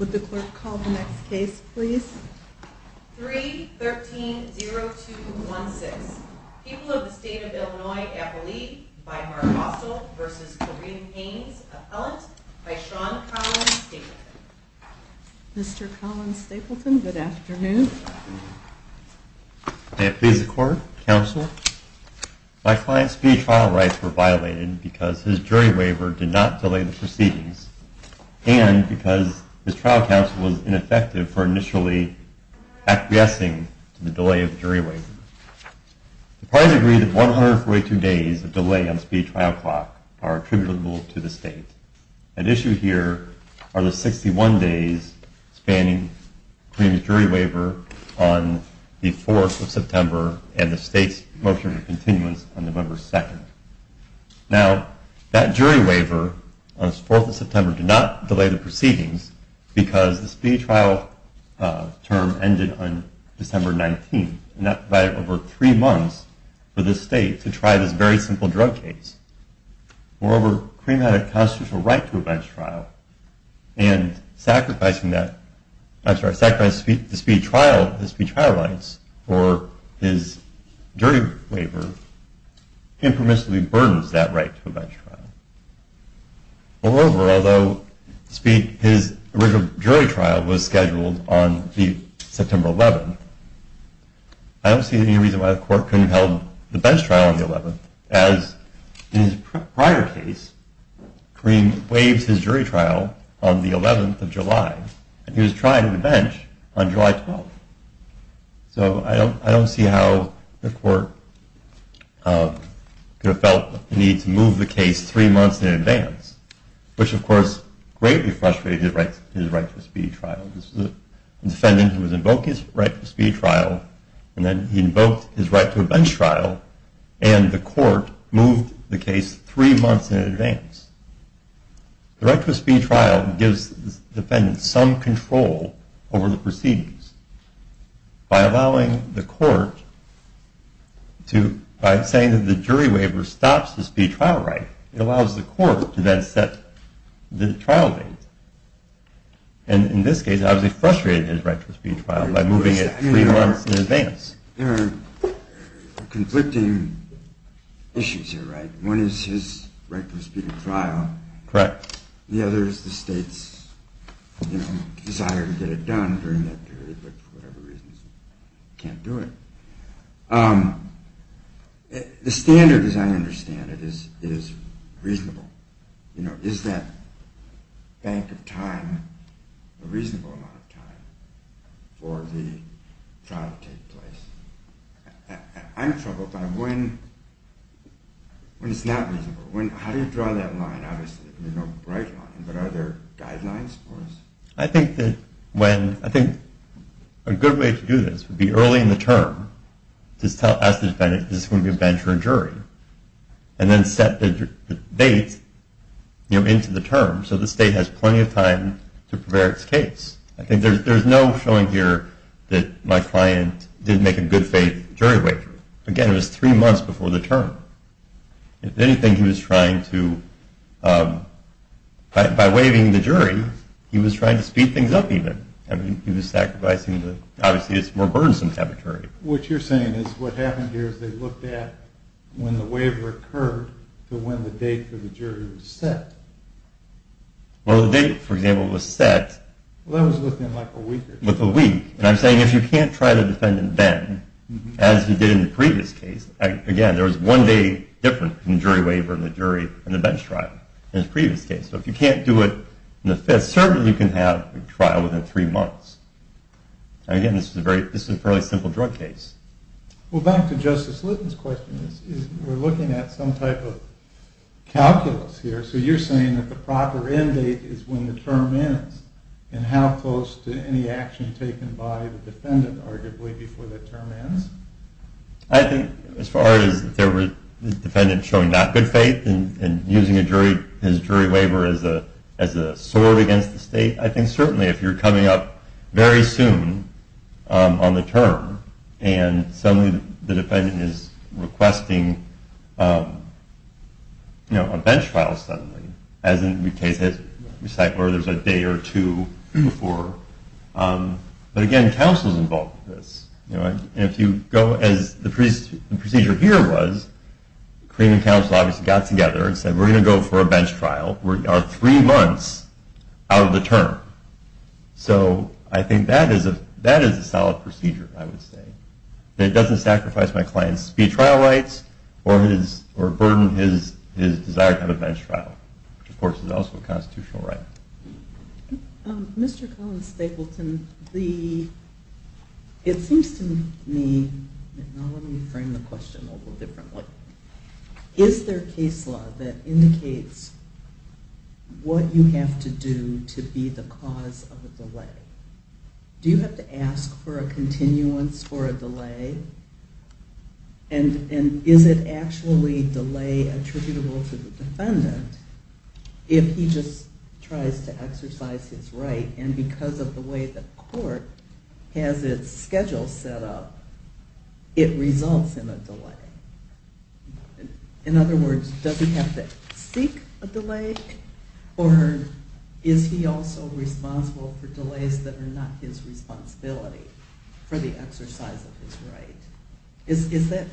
313-0216 People of the State of Illinois Appellee by Mark Russell v. Kareem Haynes Appellant by Sean Collins Stapleton May it please the Court, Counsel, My client's speedy trial rights were violated because his jury waiver did not delay the proceedings and because his trial counsel was ineffective for initially acquiescing to the delay of the jury waiver. The parties agreed that 142 days of delay on the speedy trial clock are attributable to the State. At issue here are the 61 days spanning Kareem's jury waiver on the 4th of September and the State's motion of continuance on November 2nd. Now that jury waiver on the 4th of September did not delay the proceedings because the speedy trial term ended on December 19th and that provided over three months for the State to try this very simple drug case. Moreover, Kareem had a constitutional right to a bench trial and sacrificing the speedy trial rights for his jury waiver impermissibly burdens that right to a bench trial. Moreover, although his original jury trial was scheduled on September 11th, I don't see any reason why the Court couldn't have held the bench trial on the 11th as in his prior case, Kareem waived his jury trial on the 11th of July and he was trying to bench on July 12th. So I don't see how the Court could have felt the need to move the case three months in advance, which of course greatly frustrated his right to a speedy trial. This was a defendant who invoked his right to a speedy trial and then he invoked his right to a bench trial and the Court moved the case three months in advance. The right to a speedy trial gives the defendant some control over the proceedings. By allowing the Court to, by saying that the jury waiver stops the speedy trial right, it allows the Court to then set the trial date. And in this case, obviously frustrated his right to a speedy trial by moving it three months in advance. There are conflicting issues here, right? One is his right to a speedy trial, the other is the state's desire to get it done during that period but for whatever reasons can't do it. The standard as I understand it is reasonable. Is that bank of time a reasonable amount of time for the trial to take place? I'm troubled by when it's not reasonable. How do you draw that line? Obviously there's no bright line but are there guidelines for us? I think that when, I think a good way to do this would be early in the term to ask the defendant is this going to be a bench or a jury? And then set the date, you know, into the term so the state has plenty of time to prepare its case. I think there's no showing here that my client didn't make a good faith jury waiver. Again, it was three months before the term. If anything, he was trying to, by waiving the jury, he was trying to speed things up even. I mean, he was sacrificing the, obviously it's more burdensome to have a jury. What you're saying is what happened here is they looked at when the waiver occurred to when the date for the jury was set. Well, the date, for example, was set. Well, that was within like a week. And I'm saying if you can't try the defendant then, as you did in the previous case, again, there was one day difference between the jury waiver and the jury and the bench trial in the previous case. So if you can't do it in the fifth, certainly you can have a trial within three months. Again, this is a fairly simple drug case. Well, back to Justice Litton's question. We're looking at some type of calculus here. So you're saying that the proper end date is when the term ends. And how close to any action taken by the defendant, arguably, before the term ends? I think as far as the defendant showing not good faith and using his jury waiver as a sword against the state, I think certainly if you're coming up very soon on the term and suddenly the defendant is requesting a bench trial suddenly, as in the case that we cite where there's a day or two before. But again, counsel is involved with this. And if you go as the procedure here was, the Cremon Counsel obviously got together and said, we're going to go for a bench trial. We are three months out of the term. So I think that is a solid procedure, I would say. And it doesn't sacrifice my client's trial rights or burden his desire to have a bench trial, which of course is also a constitutional right. Mr. Collins-Stapleton, it seems to me, let me frame the question a little differently. Is there case law that indicates what you have to do to be the cause of a delay? Do you have to ask for a continuance for a delay? And is it actually delay attributable to the defendant if he just tries to exercise his right? And because of the way the court has its schedule set up, it results in a delay. In other words, does he have to seek a delay? Or is he also responsible for delays that are not his responsibility for the exercise of his right? Is that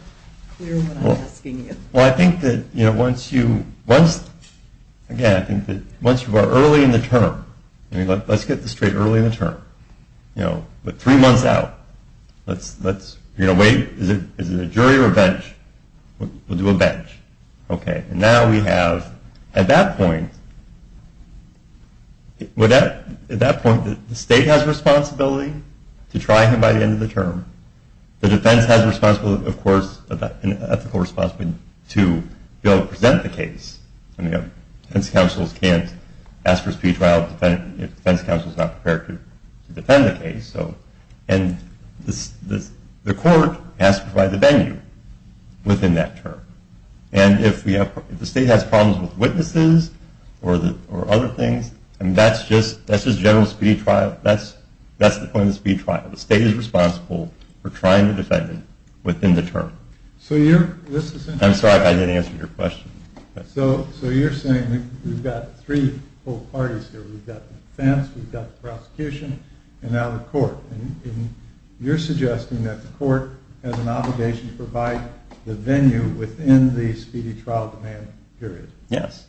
clear what I'm asking you? Well, I think that once you are early in the term, let's get this straight, early in the term. We're three months out. Is it a jury or a bench? We'll do a bench. And now we have, at that point, the state has responsibility to try him by the end of the term. The defense has responsibility, of course, an ethical responsibility to go present the case. And defense counsels can't ask for a speed trial if the defense counsel is not prepared to defend the case. And the court has to provide the venue within that term. And if the state has problems with witnesses or other things, that's just general speed trial. That's the point of speed trial. The state is responsible for trying the defendant within the term. I'm sorry if I didn't answer your question. So you're saying we've got three whole parties here. We've got the defense, we've got the prosecution, and now the court. And you're suggesting that the court has an obligation to provide the venue within the speedy trial demand period. Yes.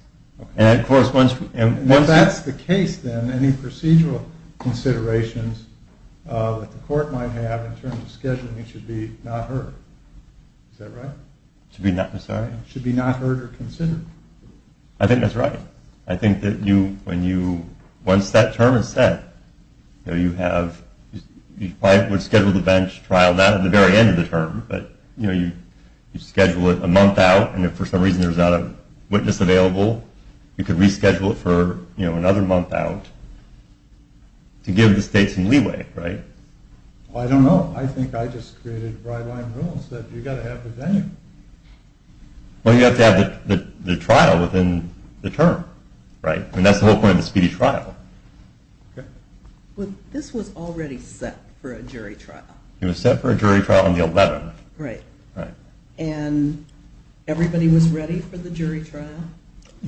If that's the case, then any procedural considerations that the court might have in terms of scheduling it should be not heard. Is that right? Should be not heard or considered. I think that's right. I think that once that term is set, you probably would schedule the bench trial not at the very end of the term, but you schedule it a month out, and if for some reason there's not a witness available, you could reschedule it for another month out to give the state some leeway, right? I don't know. I think I just created bright-line rules that you've got to have the venue. Well, you have to have the trial within the term, right? And that's the whole point of the speedy trial. This was already set for a jury trial. It was set for a jury trial on the 11th. Right. Right. And everybody was ready for the jury trial?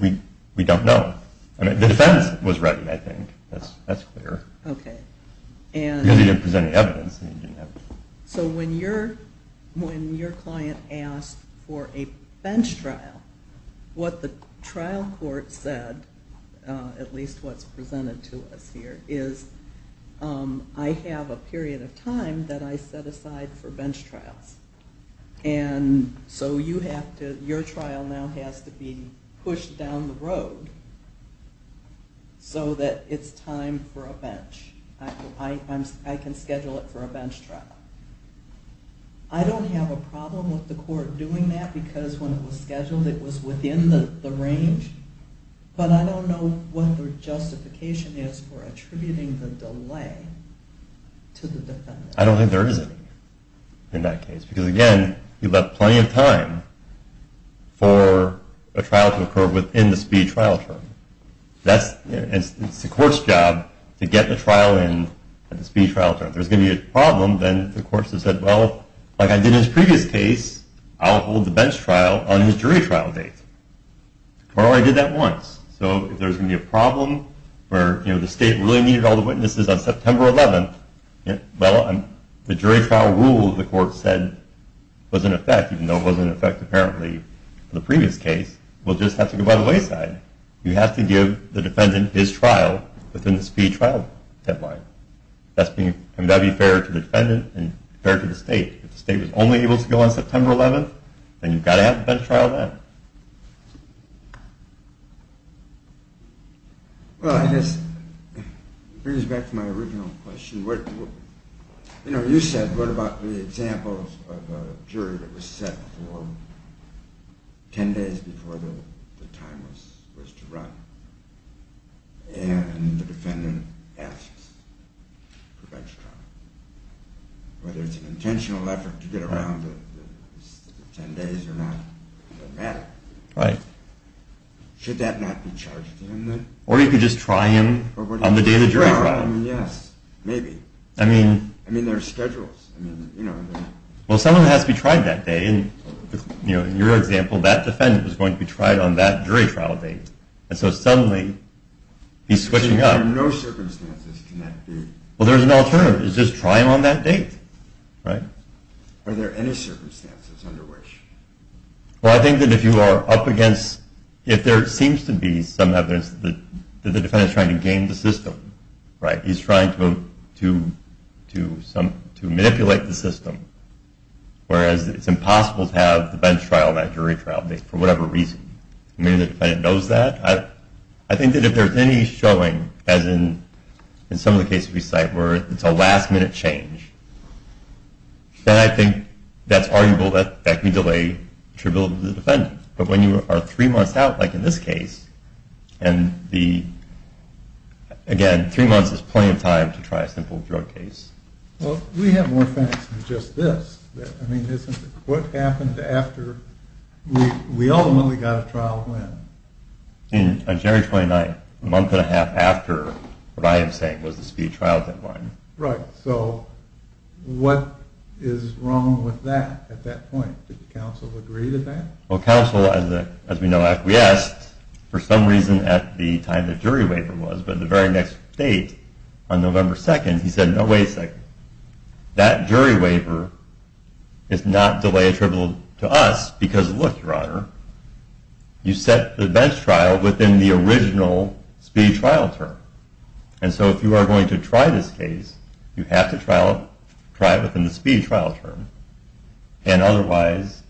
We don't know. The defense was ready, I think. That's clear. Okay. Because they didn't present any evidence. So when your client asked for a bench trial, what the trial court said, at least what's presented to us here, is I have a period of time that I set aside for bench trials. And so your trial now has to be pushed down the road so that it's time for a bench. I can schedule it for a bench trial. I don't have a problem with the court doing that because when it was scheduled it was within the range, but I don't know what their justification is for attributing the delay to the defendant. I don't think there is any in that case because, again, you left plenty of time for a trial to occur within the speedy trial term. It's the court's job to get the trial in at the speedy trial term. If there's going to be a problem, then the courts have said, well, like I did in this previous case, I'll hold the bench trial on the jury trial date. Well, I did that once. So if there's going to be a problem where the state really needed all the witnesses on September 11th, well, the jury trial rule the court said was in effect, even though it wasn't in effect apparently in the previous case, we'll just have to go by the wayside. You have to give the defendant his trial within the speedy trial deadline. That would be fair to the defendant and fair to the state. If the state was only able to go on September 11th, then you've got to have the bench trial then. Well, I guess it brings me back to my original question. You know, you said, what about the examples of a jury that was set for 10 days before the time was to run and the defendant asks for a bench trial? Whether it's an intentional effort to get around the 10 days or not doesn't matter. Right. Should that not be charged to him then? Or you could just try him on the day of the jury trial. Yes, maybe. I mean, there are schedules. Well, someone has to be tried that day. In your example, that defendant was going to be tried on that jury trial date, and so suddenly he's switching up. Under no circumstances can that be. Well, there's an alternative. It's just try him on that date. Right. Are there any circumstances under which? Well, I think that if there seems to be some evidence that the defendant is trying to game the system, right, he's trying to manipulate the system, whereas it's impossible to have the bench trial, that jury trial date, for whatever reason. Maybe the defendant knows that. I think that if there's any showing, as in some of the cases we cite where it's a last-minute change, then I think that's arguable that that can delay attributable to the defendant. But when you are three months out, like in this case, and, again, three months is plenty of time to try a simple drug case. Well, we have more facts than just this. What happened after we ultimately got a trial when? On January 29th, a month and a half after what I am saying was the speed trial deadline. Right. So what is wrong with that at that point? Did the counsel agree to that? Well, counsel, as we know, acquiesced for some reason at the time the jury waiver was, but the very next date, on November 2nd, he said, no, wait a second, that jury waiver is not delay attributable to us because, look, Your Honor, you set the bench trial within the original speed trial term. And so if you are going to try this case, you have to try it within the speed trial term, and otherwise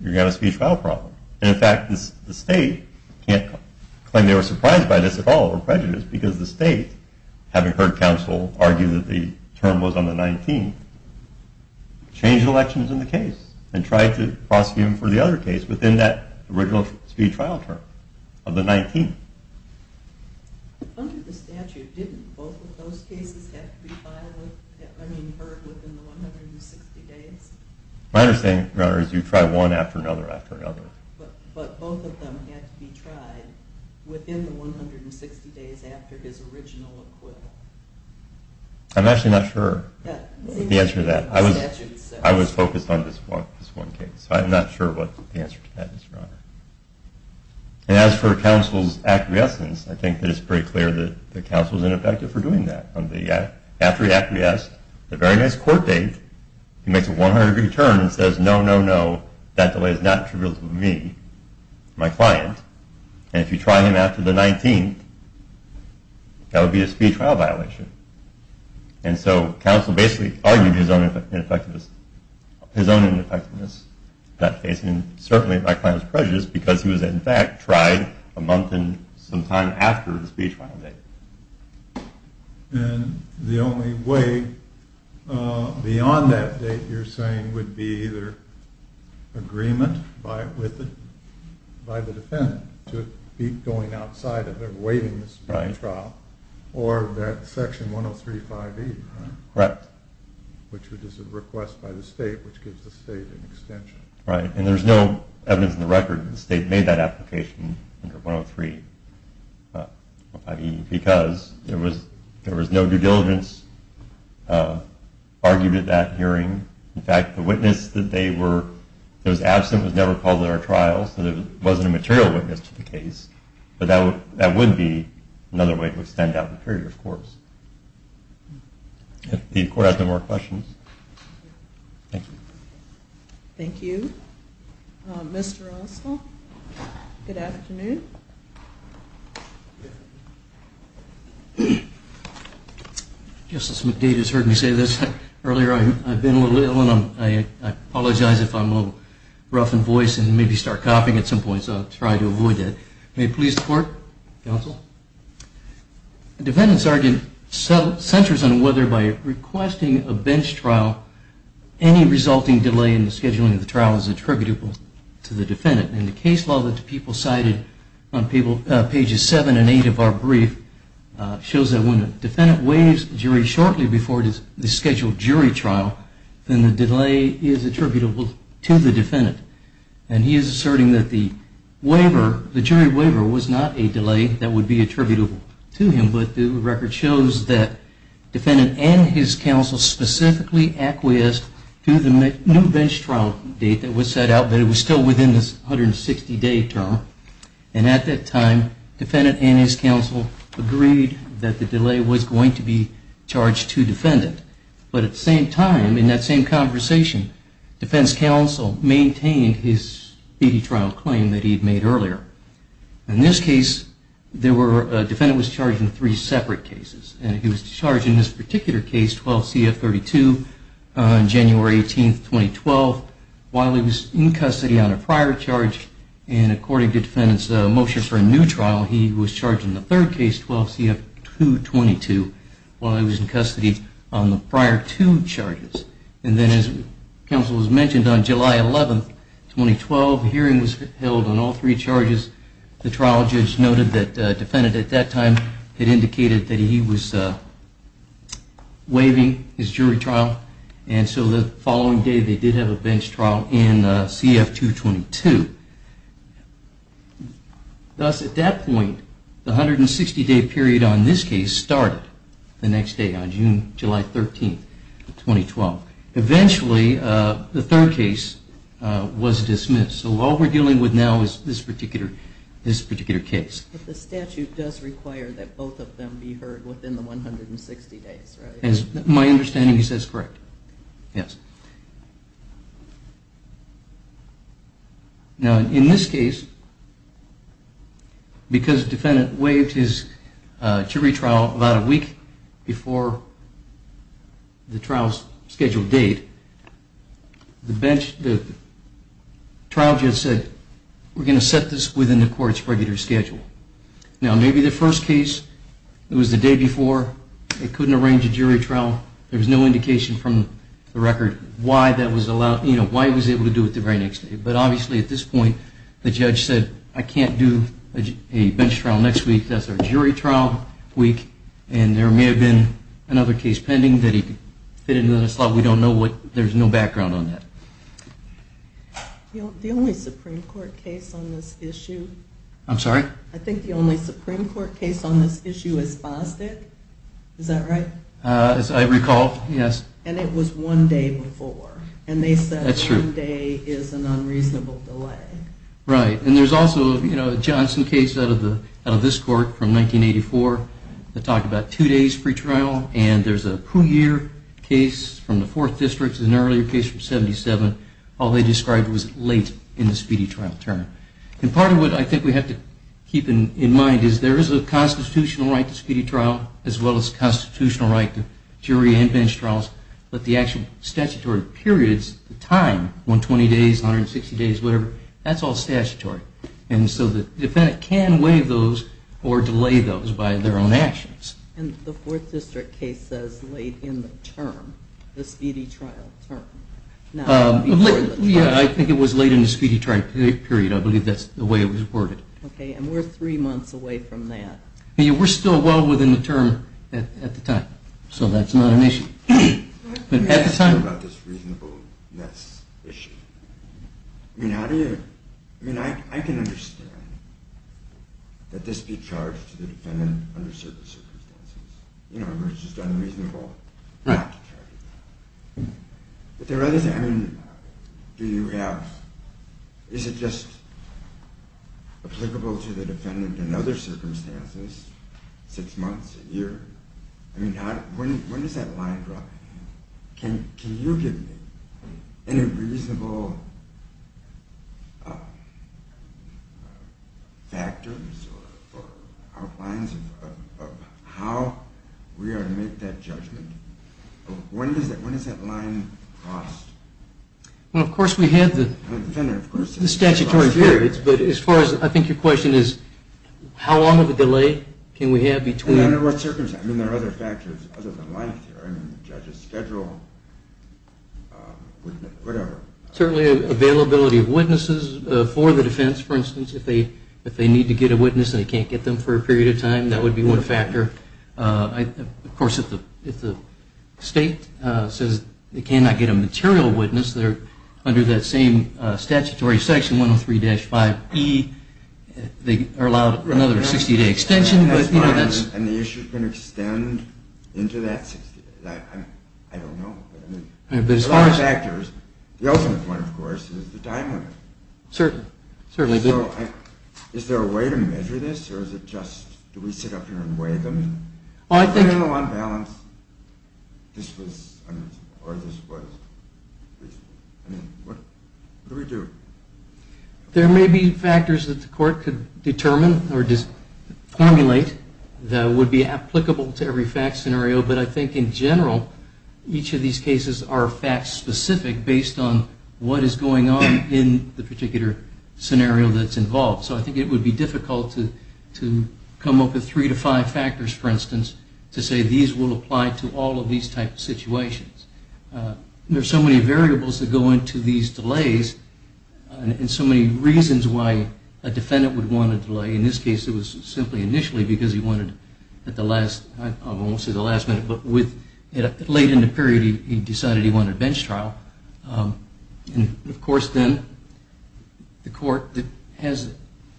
you're going to have a speed trial problem. And, in fact, the state can't claim they were surprised by this at all or prejudiced because the state, having heard counsel argue that the term was on the 19th, changed elections in the case and tried to prosecute them for the other case within that original speed trial term of the 19th. Under the statute, didn't both of those cases have to be heard within the 160 days? My understanding, Your Honor, is you try one after another after another. But both of them had to be tried within the 160 days after his original acquittal. I'm actually not sure the answer to that. I was focused on this one case, so I'm not sure what the answer to that is, Your Honor. And as for counsel's acquiescence, I think that it's pretty clear that the counsel's ineffective for doing that. After he acquiesced, the very next court date, he makes a 100-degree turn and says, no, no, no, that delay is not attributable to me, my client. And if you try him after the 19th, that would be a speed trial violation. And so counsel basically argued his own ineffectiveness in that case. And certainly my client was prejudiced because he was, in fact, tried a month and some time after the speed trial date. And the only way beyond that date, you're saying, would be either agreement by the defendant to keep going outside of their weight in the speed trial, or that Section 103.5e, which is a request by the state which gives the state an extension. Right. And there's no evidence in the record that the state made that application under 103.5e because there was no due diligence argued at that hearing. In fact, the witness that was absent was never called at our trial, so there wasn't a material witness to the case. But that would be another way to extend out the period, of course. If the court has no more questions. Thank you. Thank you. Mr. Russell, good afternoon. Justice McDade has heard me say this earlier. I've been a little ill, and I apologize if I'm a little rough in voice and maybe start coughing at some point, so I'll try to avoid that. May it please the court? Counsel? The defendant's argument centers on whether by requesting a bench trial, any resulting delay in the scheduling of the trial is attributable to the defendant. And the case law that the people cited on pages seven and eight of our brief shows that when a defendant waives a jury shortly before the scheduled jury trial, then the delay is attributable to the defendant. And he is asserting that the jury waiver was not a delay that would be attributable to him, but the record shows that defendant and his counsel specifically acquiesced to the new bench trial date that was set out, but it was still within the 160-day term. And at that time, defendant and his counsel agreed that the delay was going to be charged to defendant. But at the same time, in that same conversation, defense counsel maintained his PD trial claim that he had made earlier. In this case, the defendant was charged in three separate cases. And he was charged in this particular case, 12 CF 32, on January 18, 2012, while he was in custody on a prior charge. And according to defendant's motion for a new trial, he was charged in the third case, 12 CF 222, while he was in custody on the prior two charges. And then as counsel has mentioned, on July 11, 2012, hearing was held on all three charges. The trial judge noted that defendant at that time had indicated that he was waiving his jury trial, and so the following day they did have a bench trial in CF 222. Thus, at that point, the 160-day period on this case started the next day, on July 13, 2012. Eventually, the third case was dismissed. So all we're dealing with now is this particular case. But the statute does require that both of them be heard within the 160 days, right? My understanding is that's correct, yes. Now, in this case, because defendant waived his jury trial about a week before the trial's scheduled date, the trial judge said, we're going to set this within the court's regular schedule. Now, maybe the first case, it was the day before, it couldn't arrange a jury trial, there was no indication from the record why he was able to do it the very next day. But obviously, at this point, the judge said, I can't do a bench trial next week, that's our jury trial week, and there may have been another case pending that he could fit into that slot. We don't know. There's no background on that. The only Supreme Court case on this issue is Bostick, is that right? As I recall, yes. And it was one day before. And they said one day is an unreasonable delay. Right. And there's also a Johnson case out of this court from 1984 that talked about two days free trial. And there's a Pugier case from the 4th District and an earlier case from 77. All they described was late in the speedy trial term. And part of what I think we have to keep in mind is there is a constitutional right to speedy trial, as well as a constitutional right to jury and bench trials, but the actual statutory periods, the time, 120 days, 160 days, whatever, that's all statutory. And so the defendant can waive those or delay those by their own actions. And the 4th District case says late in the term, the speedy trial term. Yeah, I think it was late in the speedy trial period. I believe that's the way it was worded. Okay, and we're three months away from that. We're still well within the term at the time, so that's not an issue. Let me ask you about this reasonableness issue. I mean, I can understand that this be charged to the defendant under certain circumstances. You know, it's just unreasonable not to charge it. But is it just applicable to the defendant in other circumstances, six months, a year? I mean, when does that line drop? Can you give me any reasonable factors or outlines of how we are to make that judgment? When does that line cross? Well, of course we have the statutory periods, but as far as I think your question is, how long of a delay can we have between I mean, under what circumstances? I mean, there are other factors other than life here. I mean, judge's schedule, whatever. Certainly availability of witnesses for the defense. For instance, if they need to get a witness and they can't get them for a period of time, that would be one factor. Of course, if the state says they cannot get a material witness, they're under that same statutory section, 103-5E, they are allowed another 60-day extension. And the issue can extend into that 60 days. I don't know. But as far as factors, the ultimate one, of course, is the time limit. Certainly. So is there a way to measure this, or is it just do we sit up here and weigh them? I mean, on balance, this was unreasonable, or this was reasonable. I mean, what do we do? There may be factors that the court could determine or just formulate that would be applicable to every fact scenario, but I think in general each of these cases are fact-specific based on what is going on in the particular scenario that's involved. So I think it would be difficult to come up with three to five factors, for instance, to say these will apply to all of these types of situations. There are so many variables that go into these delays and so many reasons why a defendant would want a delay. In this case, it was simply initially because he wanted at the last, I won't say the last minute, but late in the period he decided he wanted a bench trial. And, of course, then the court has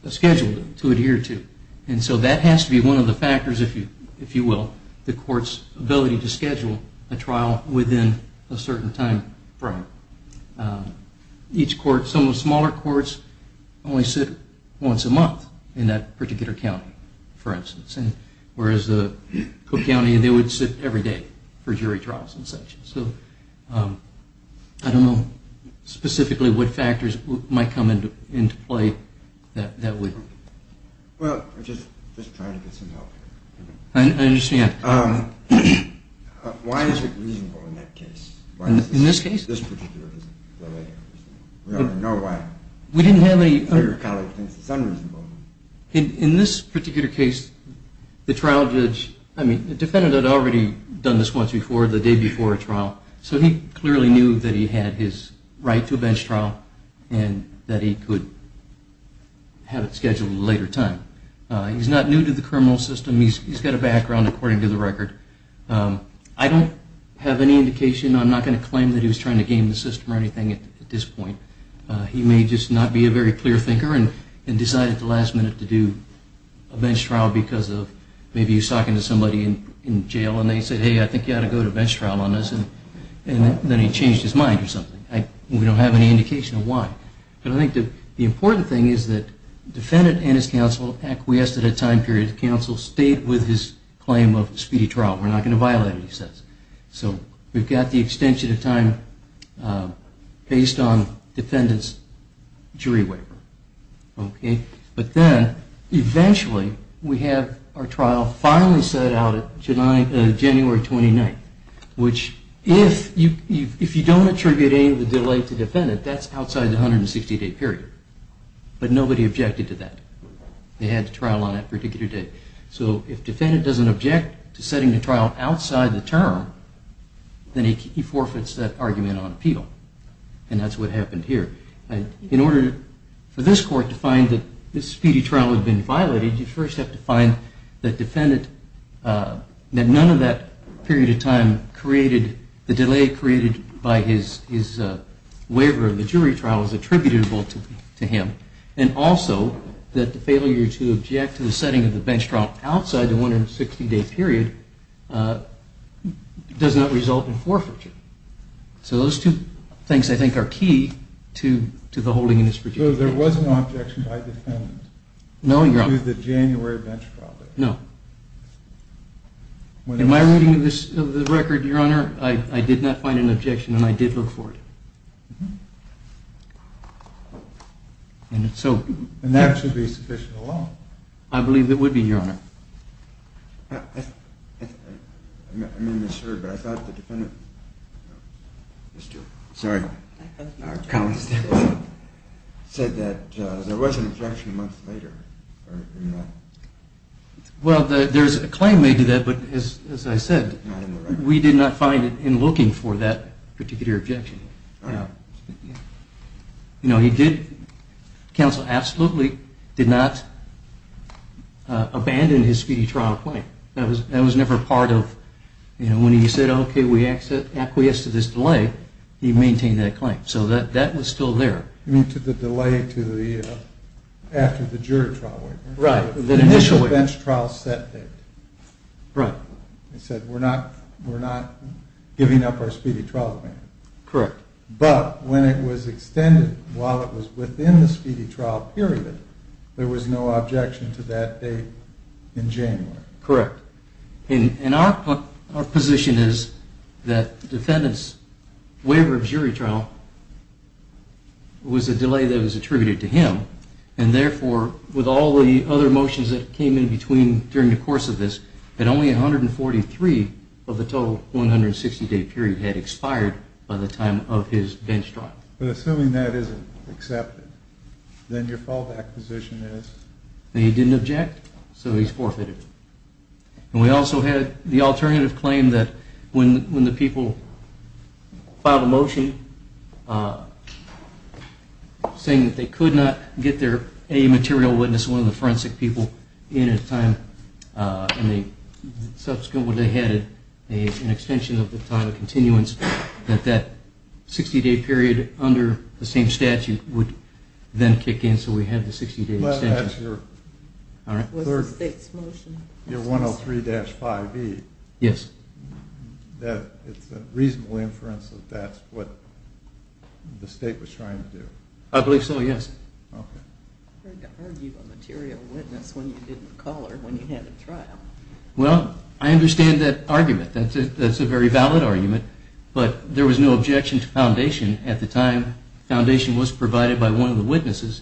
a schedule to adhere to. And so that has to be one of the factors, if you will, the court's ability to schedule a trial within a certain time frame. Some of the smaller courts only sit once a month in that particular county, for instance, whereas the Cook County, they would sit every day for jury trials and such. So I don't know specifically what factors might come into play that way. Well, I'm just trying to get some help here. I understand. Why is it reasonable in that case? In this case? This particular delay. We don't know why. We didn't have any... Your colleague thinks it's unreasonable. In this particular case, the trial judge, I mean, the defendant had already done this once before, the day before a trial, so he clearly knew that he had his right to a bench trial and that he could have it scheduled at a later time. He's not new to the criminal system. He's got a background, according to the record. I don't have any indication. I'm not going to claim that he was trying to game the system or anything at this point. He may just not be a very clear thinker and decide at the last minute to do a bench trial because maybe he was talking to somebody in jail and they said, hey, I think you ought to go to a bench trial on this, and then he changed his mind or something. We don't have any indication of why. But I think the important thing is that the defendant and his counsel acquiesced at a time period. The counsel stayed with his claim of speedy trial. We're not going to violate it, he says. So we've got the extension of time based on the defendant's jury waiver. But then eventually we have our trial finally set out on January 29th, which if you don't attribute any of the delay to the defendant, that's outside the 160-day period. But nobody objected to that. They had the trial on that particular day. So if the defendant doesn't object to setting the trial outside the term, then he forfeits that argument on appeal. And that's what happened here. In order for this court to find that this speedy trial had been violated, you first have to find that none of that period of time created the delay created by his waiver and the jury trial was attributable to him. And also that the failure to object to the setting of the bench trial outside the 160-day period does not result in forfeiture. So those two things, I think, are key to the holding in this particular case. So there was an objection by the defendant to the January bench trial date? No. Am I reading the record, Your Honor? I did not find an objection and I did look for it. And that should be sufficient law. I believe it would be, Your Honor. I may have misheard, but I thought the defendant said that there was an objection a month later. Well, there's a claim made to that, but as I said, we did not find it in looking for that particular objection. You know, he did, counsel absolutely did not abandon his speedy trial claim. That was never part of, you know, when he said, okay, we acquiesce to this delay, he maintained that claim. So that was still there. You mean to the delay to the, after the jury trial waiver? Right. The initial bench trial set date. Right. He said, we're not giving up our speedy trial. Correct. But when it was extended, while it was within the speedy trial period, there was no objection to that date in January. Correct. And our position is that the defendant's waiver of jury trial was a delay that was attributed to him. And therefore, with all the other motions that came in between during the course of this, that only 143 of the total 160-day period had expired by the time of his bench trial. But assuming that isn't accepted, then your fallback position is? He didn't object, so he's forfeited. And we also had the alternative claim that when the people filed a motion saying that they could not get their A material witness, one of the forensic people, in at a time, and they subsequently had an extension of the time of continuance, that that 60-day period under the same statute would then kick in. So we had the 60-day extension. What's the state's motion? Your 103-5E. Yes. It's a reasonable inference that that's what the state was trying to do. I believe so, yes. Okay. I heard you argue a material witness when you didn't call her when you had a trial. Well, I understand that argument. That's a very valid argument. But there was no objection to Foundation at the time. Foundation was provided by one of the witnesses.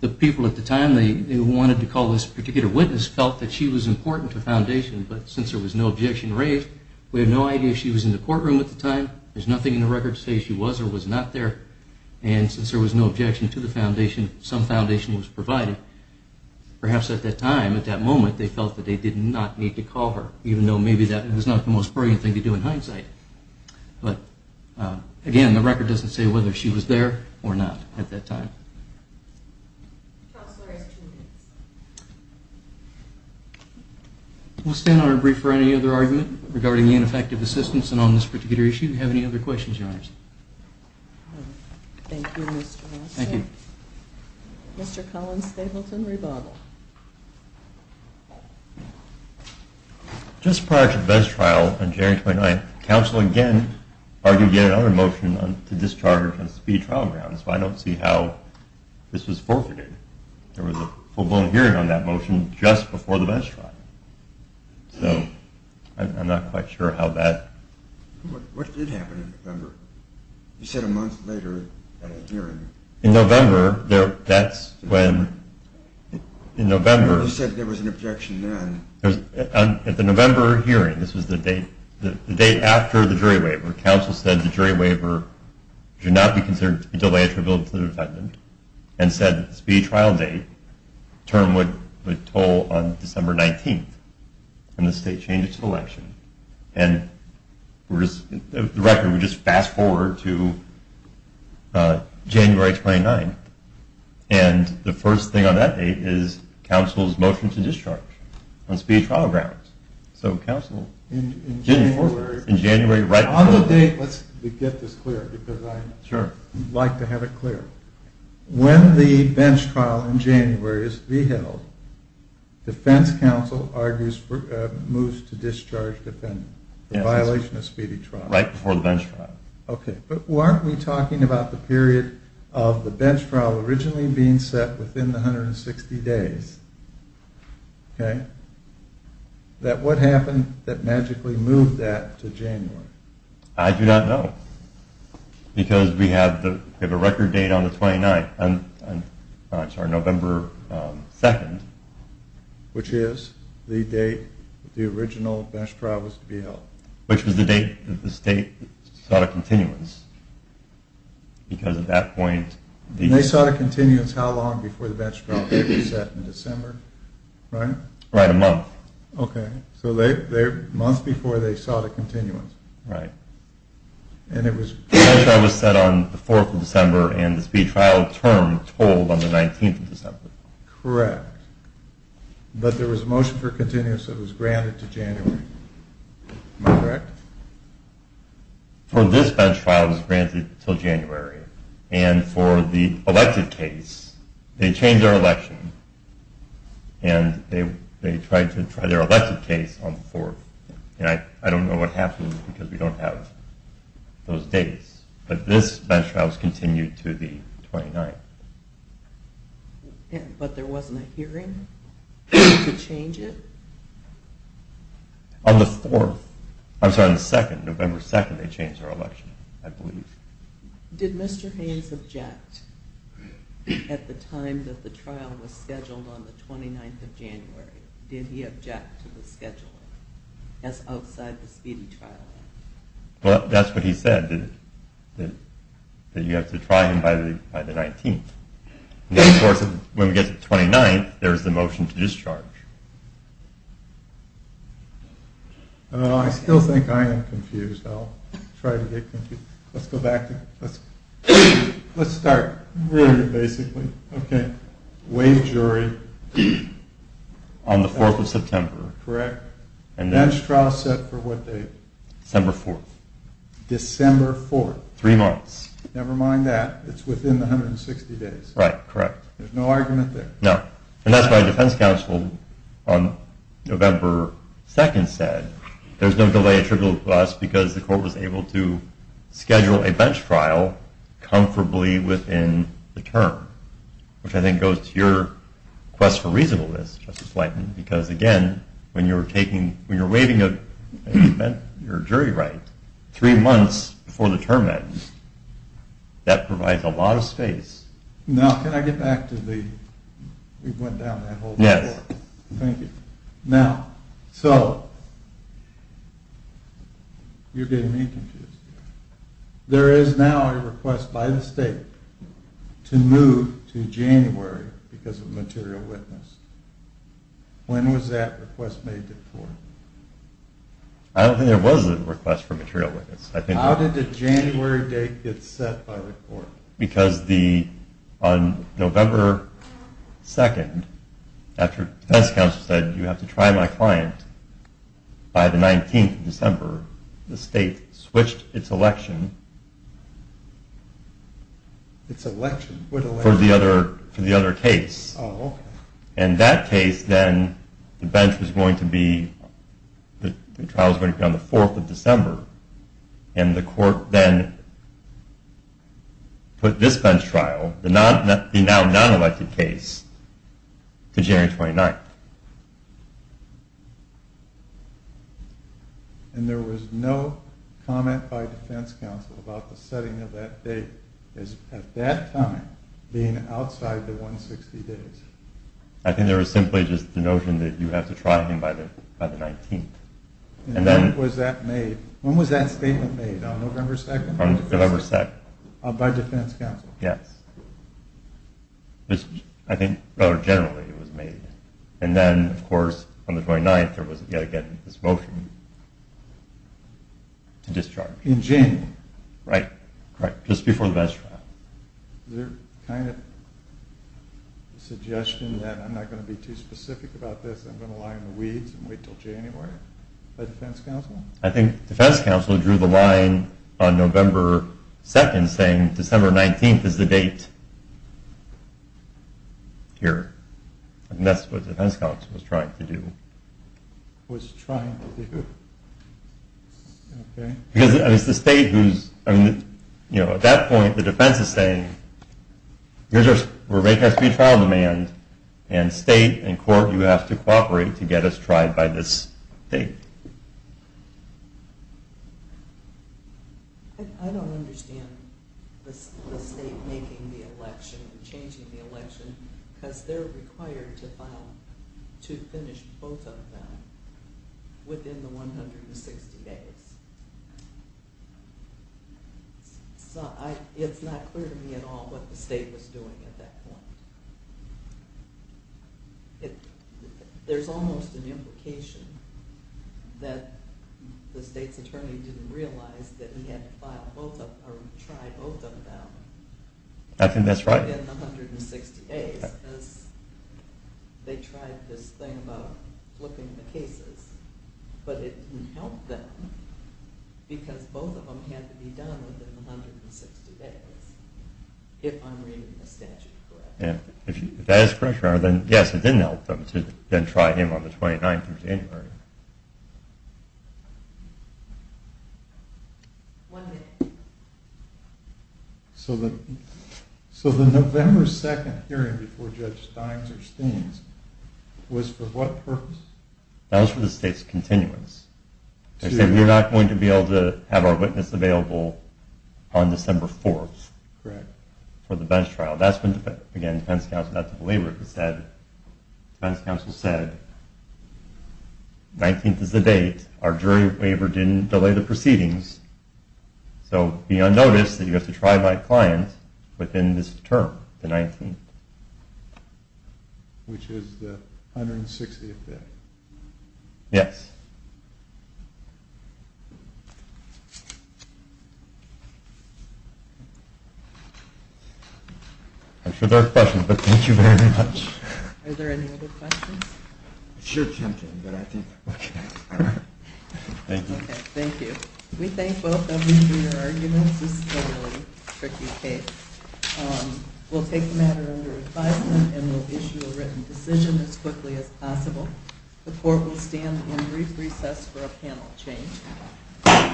The people at the time who wanted to call this particular witness felt that she was important to Foundation. But since there was no objection raised, we have no idea if she was in the courtroom at the time. There's nothing in the record to say she was or was not there. And since there was no objection to the Foundation, some Foundation was provided. Perhaps at that time, at that moment, they felt that they did not need to call her, even though maybe that was not the most brilliant thing to do in hindsight. But again, the record doesn't say whether she was there or not at that time. Counselor has two minutes. We'll stand on our brief for any other argument regarding the ineffective assistance. And on this particular issue, do you have any other questions, Your Honors? Thank you, Mr. Nelson. Thank you. Mr. Collins-Stapleton, rebuttal. Just prior to the Best Trial on January 29th, counsel again argued yet another motion to discharge her from Speed Trial Grounds. But I don't see how this was forfeited. There was a full-blown hearing on that motion just before the Best Trial. So I'm not quite sure how that… What did happen in November? You said a month later at a hearing. In November, that's when, in November… You said there was an objection then. At the November hearing, this was the date after the jury waiver, counsel said the jury waiver should not be considered to be delayed for a bill to the defendant and said that the speed trial date term would toll on December 19th when the state changes to election. And the record would just fast forward to January 29th. And the first thing on that date is counsel's motion to discharge on Speed Trial Grounds. So counsel didn't forfeit in January. On the date, let's get this clear because I'd like to have it clear. So when the bench trial in January is to be held, defense counsel argues for moves to discharge the defendant in violation of speedy trial. Right before the bench trial. Okay. But weren't we talking about the period of the bench trial originally being set within the 160 days? Okay. That what happened that magically moved that to January? I do not know. Because we have a record date on the 29th. I'm sorry, November 2nd. Which is the date the original bench trial was to be held. Which was the date that the state sought a continuance. Because at that point. They sought a continuance how long before the bench trial date was set in December, right? Right, a month. Okay. So a month before they sought a continuance. Right. And it was. The bench trial was set on the 4th of December and the speedy trial term told on the 19th of December. Correct. But there was a motion for continuance that was granted to January. Am I correct? For this bench trial it was granted until January. And for the elected case, they changed their election. And they tried to try their elected case on the 4th. And I don't know what happened because we don't have those dates. But this bench trial was continued to the 29th. But there wasn't a hearing to change it? On the 4th. I'm sorry, on the 2nd. November 2nd they changed their election, I believe. Did Mr. Haynes object at the time that the trial was scheduled on the 29th of January? Did he object to the schedule? That's outside the speedy trial. Well, that's what he said, that you have to try him by the 19th. Of course, when we get to the 29th, there's the motion to discharge. I still think I am confused. I'll try to get confused. Let's go back. Let's start. Okay. Waive jury. On the 4th of September. Correct. Bench trial set for what date? December 4th. December 4th. Three months. Never mind that. It's within the 160 days. Right, correct. There's no argument there. No. And that's why defense counsel on November 2nd said there's no delay attributable to us because the court was able to schedule a bench trial comfortably within the term, which I think goes to your quest for reasonableness, Justice Lightman, because, again, when you're waiving your jury right three months before the term ends, that provides a lot of space. Now, can I get back to the... We went down that whole thing. Yes. Thank you. Now, so you're getting me confused. There is now a request by the state to move to January because of material witness. When was that request made before? I don't think there was a request for material witness. How did the January date get set by the court? Because on November 2nd, after defense counsel said, you have to try my client by the 19th of December, the state switched its election. Its election? What election? For the other case. Oh, okay. And that case then, the bench was going to be, the trial was going to be on the 4th of December, and the court then put this bench trial, the now non-elected case, to January 29th. And there was no comment by defense counsel about the setting of that date as, at that time, being outside the 160 days. I think there was simply just the notion that you have to try him by the 19th. And when was that made? When was that statement made? On November 2nd? On November 2nd. By defense counsel? Yes. I think, generally, it was made. And then, of course, on the 29th, there was, again, this motion to discharge. In January? Right. Right. Just before the bench trial. Is there kind of a suggestion that I'm not going to be too specific about this, I'm going to lie in the weeds and wait until January by defense counsel? I think defense counsel drew the line on November 2nd saying, December 19th is the date here. And that's what defense counsel was trying to do. Was trying to do. Okay. Because it's the state who's, you know, at that point, the defense is saying, we're making a speed trial demand, and state and court, you have to cooperate to get us tried by this date. I don't understand the state making the election, changing the election, because they're required to finish both of them within the 160 days. It's not clear to me at all what the state was doing at that point. There's almost an implication that the state's attorney didn't realize that he had to try both of them. I think that's right. Within 160 days, because they tried this thing about flipping the cases. But it didn't help them, because both of them had to be done within 160 days, if I'm reading the statute correctly. If that is correct, then yes, it didn't help them to try him on the 29th of January. One minute. So the November 2nd hearing before Judge Steins or Steens was for what purpose? That was for the state's continuance. They said, we're not going to be able to have our witness available on December 4th for the bench trial. Again, the defense counsel said, 19th is the date, our jury waiver didn't delay the proceedings, so be on notice that you have to try by client within this term, the 19th. Which is the 160th day. Yes. I'm sure there are questions, but thank you very much. Are there any other questions? Sure, Jim, Jim, but I think... Thank you. Thank you. We thank both of you for your arguments. This is a really tricky case. We'll take the matter under advisement and we'll issue a written decision as quickly as possible. The court will stand in brief recess for a panel change.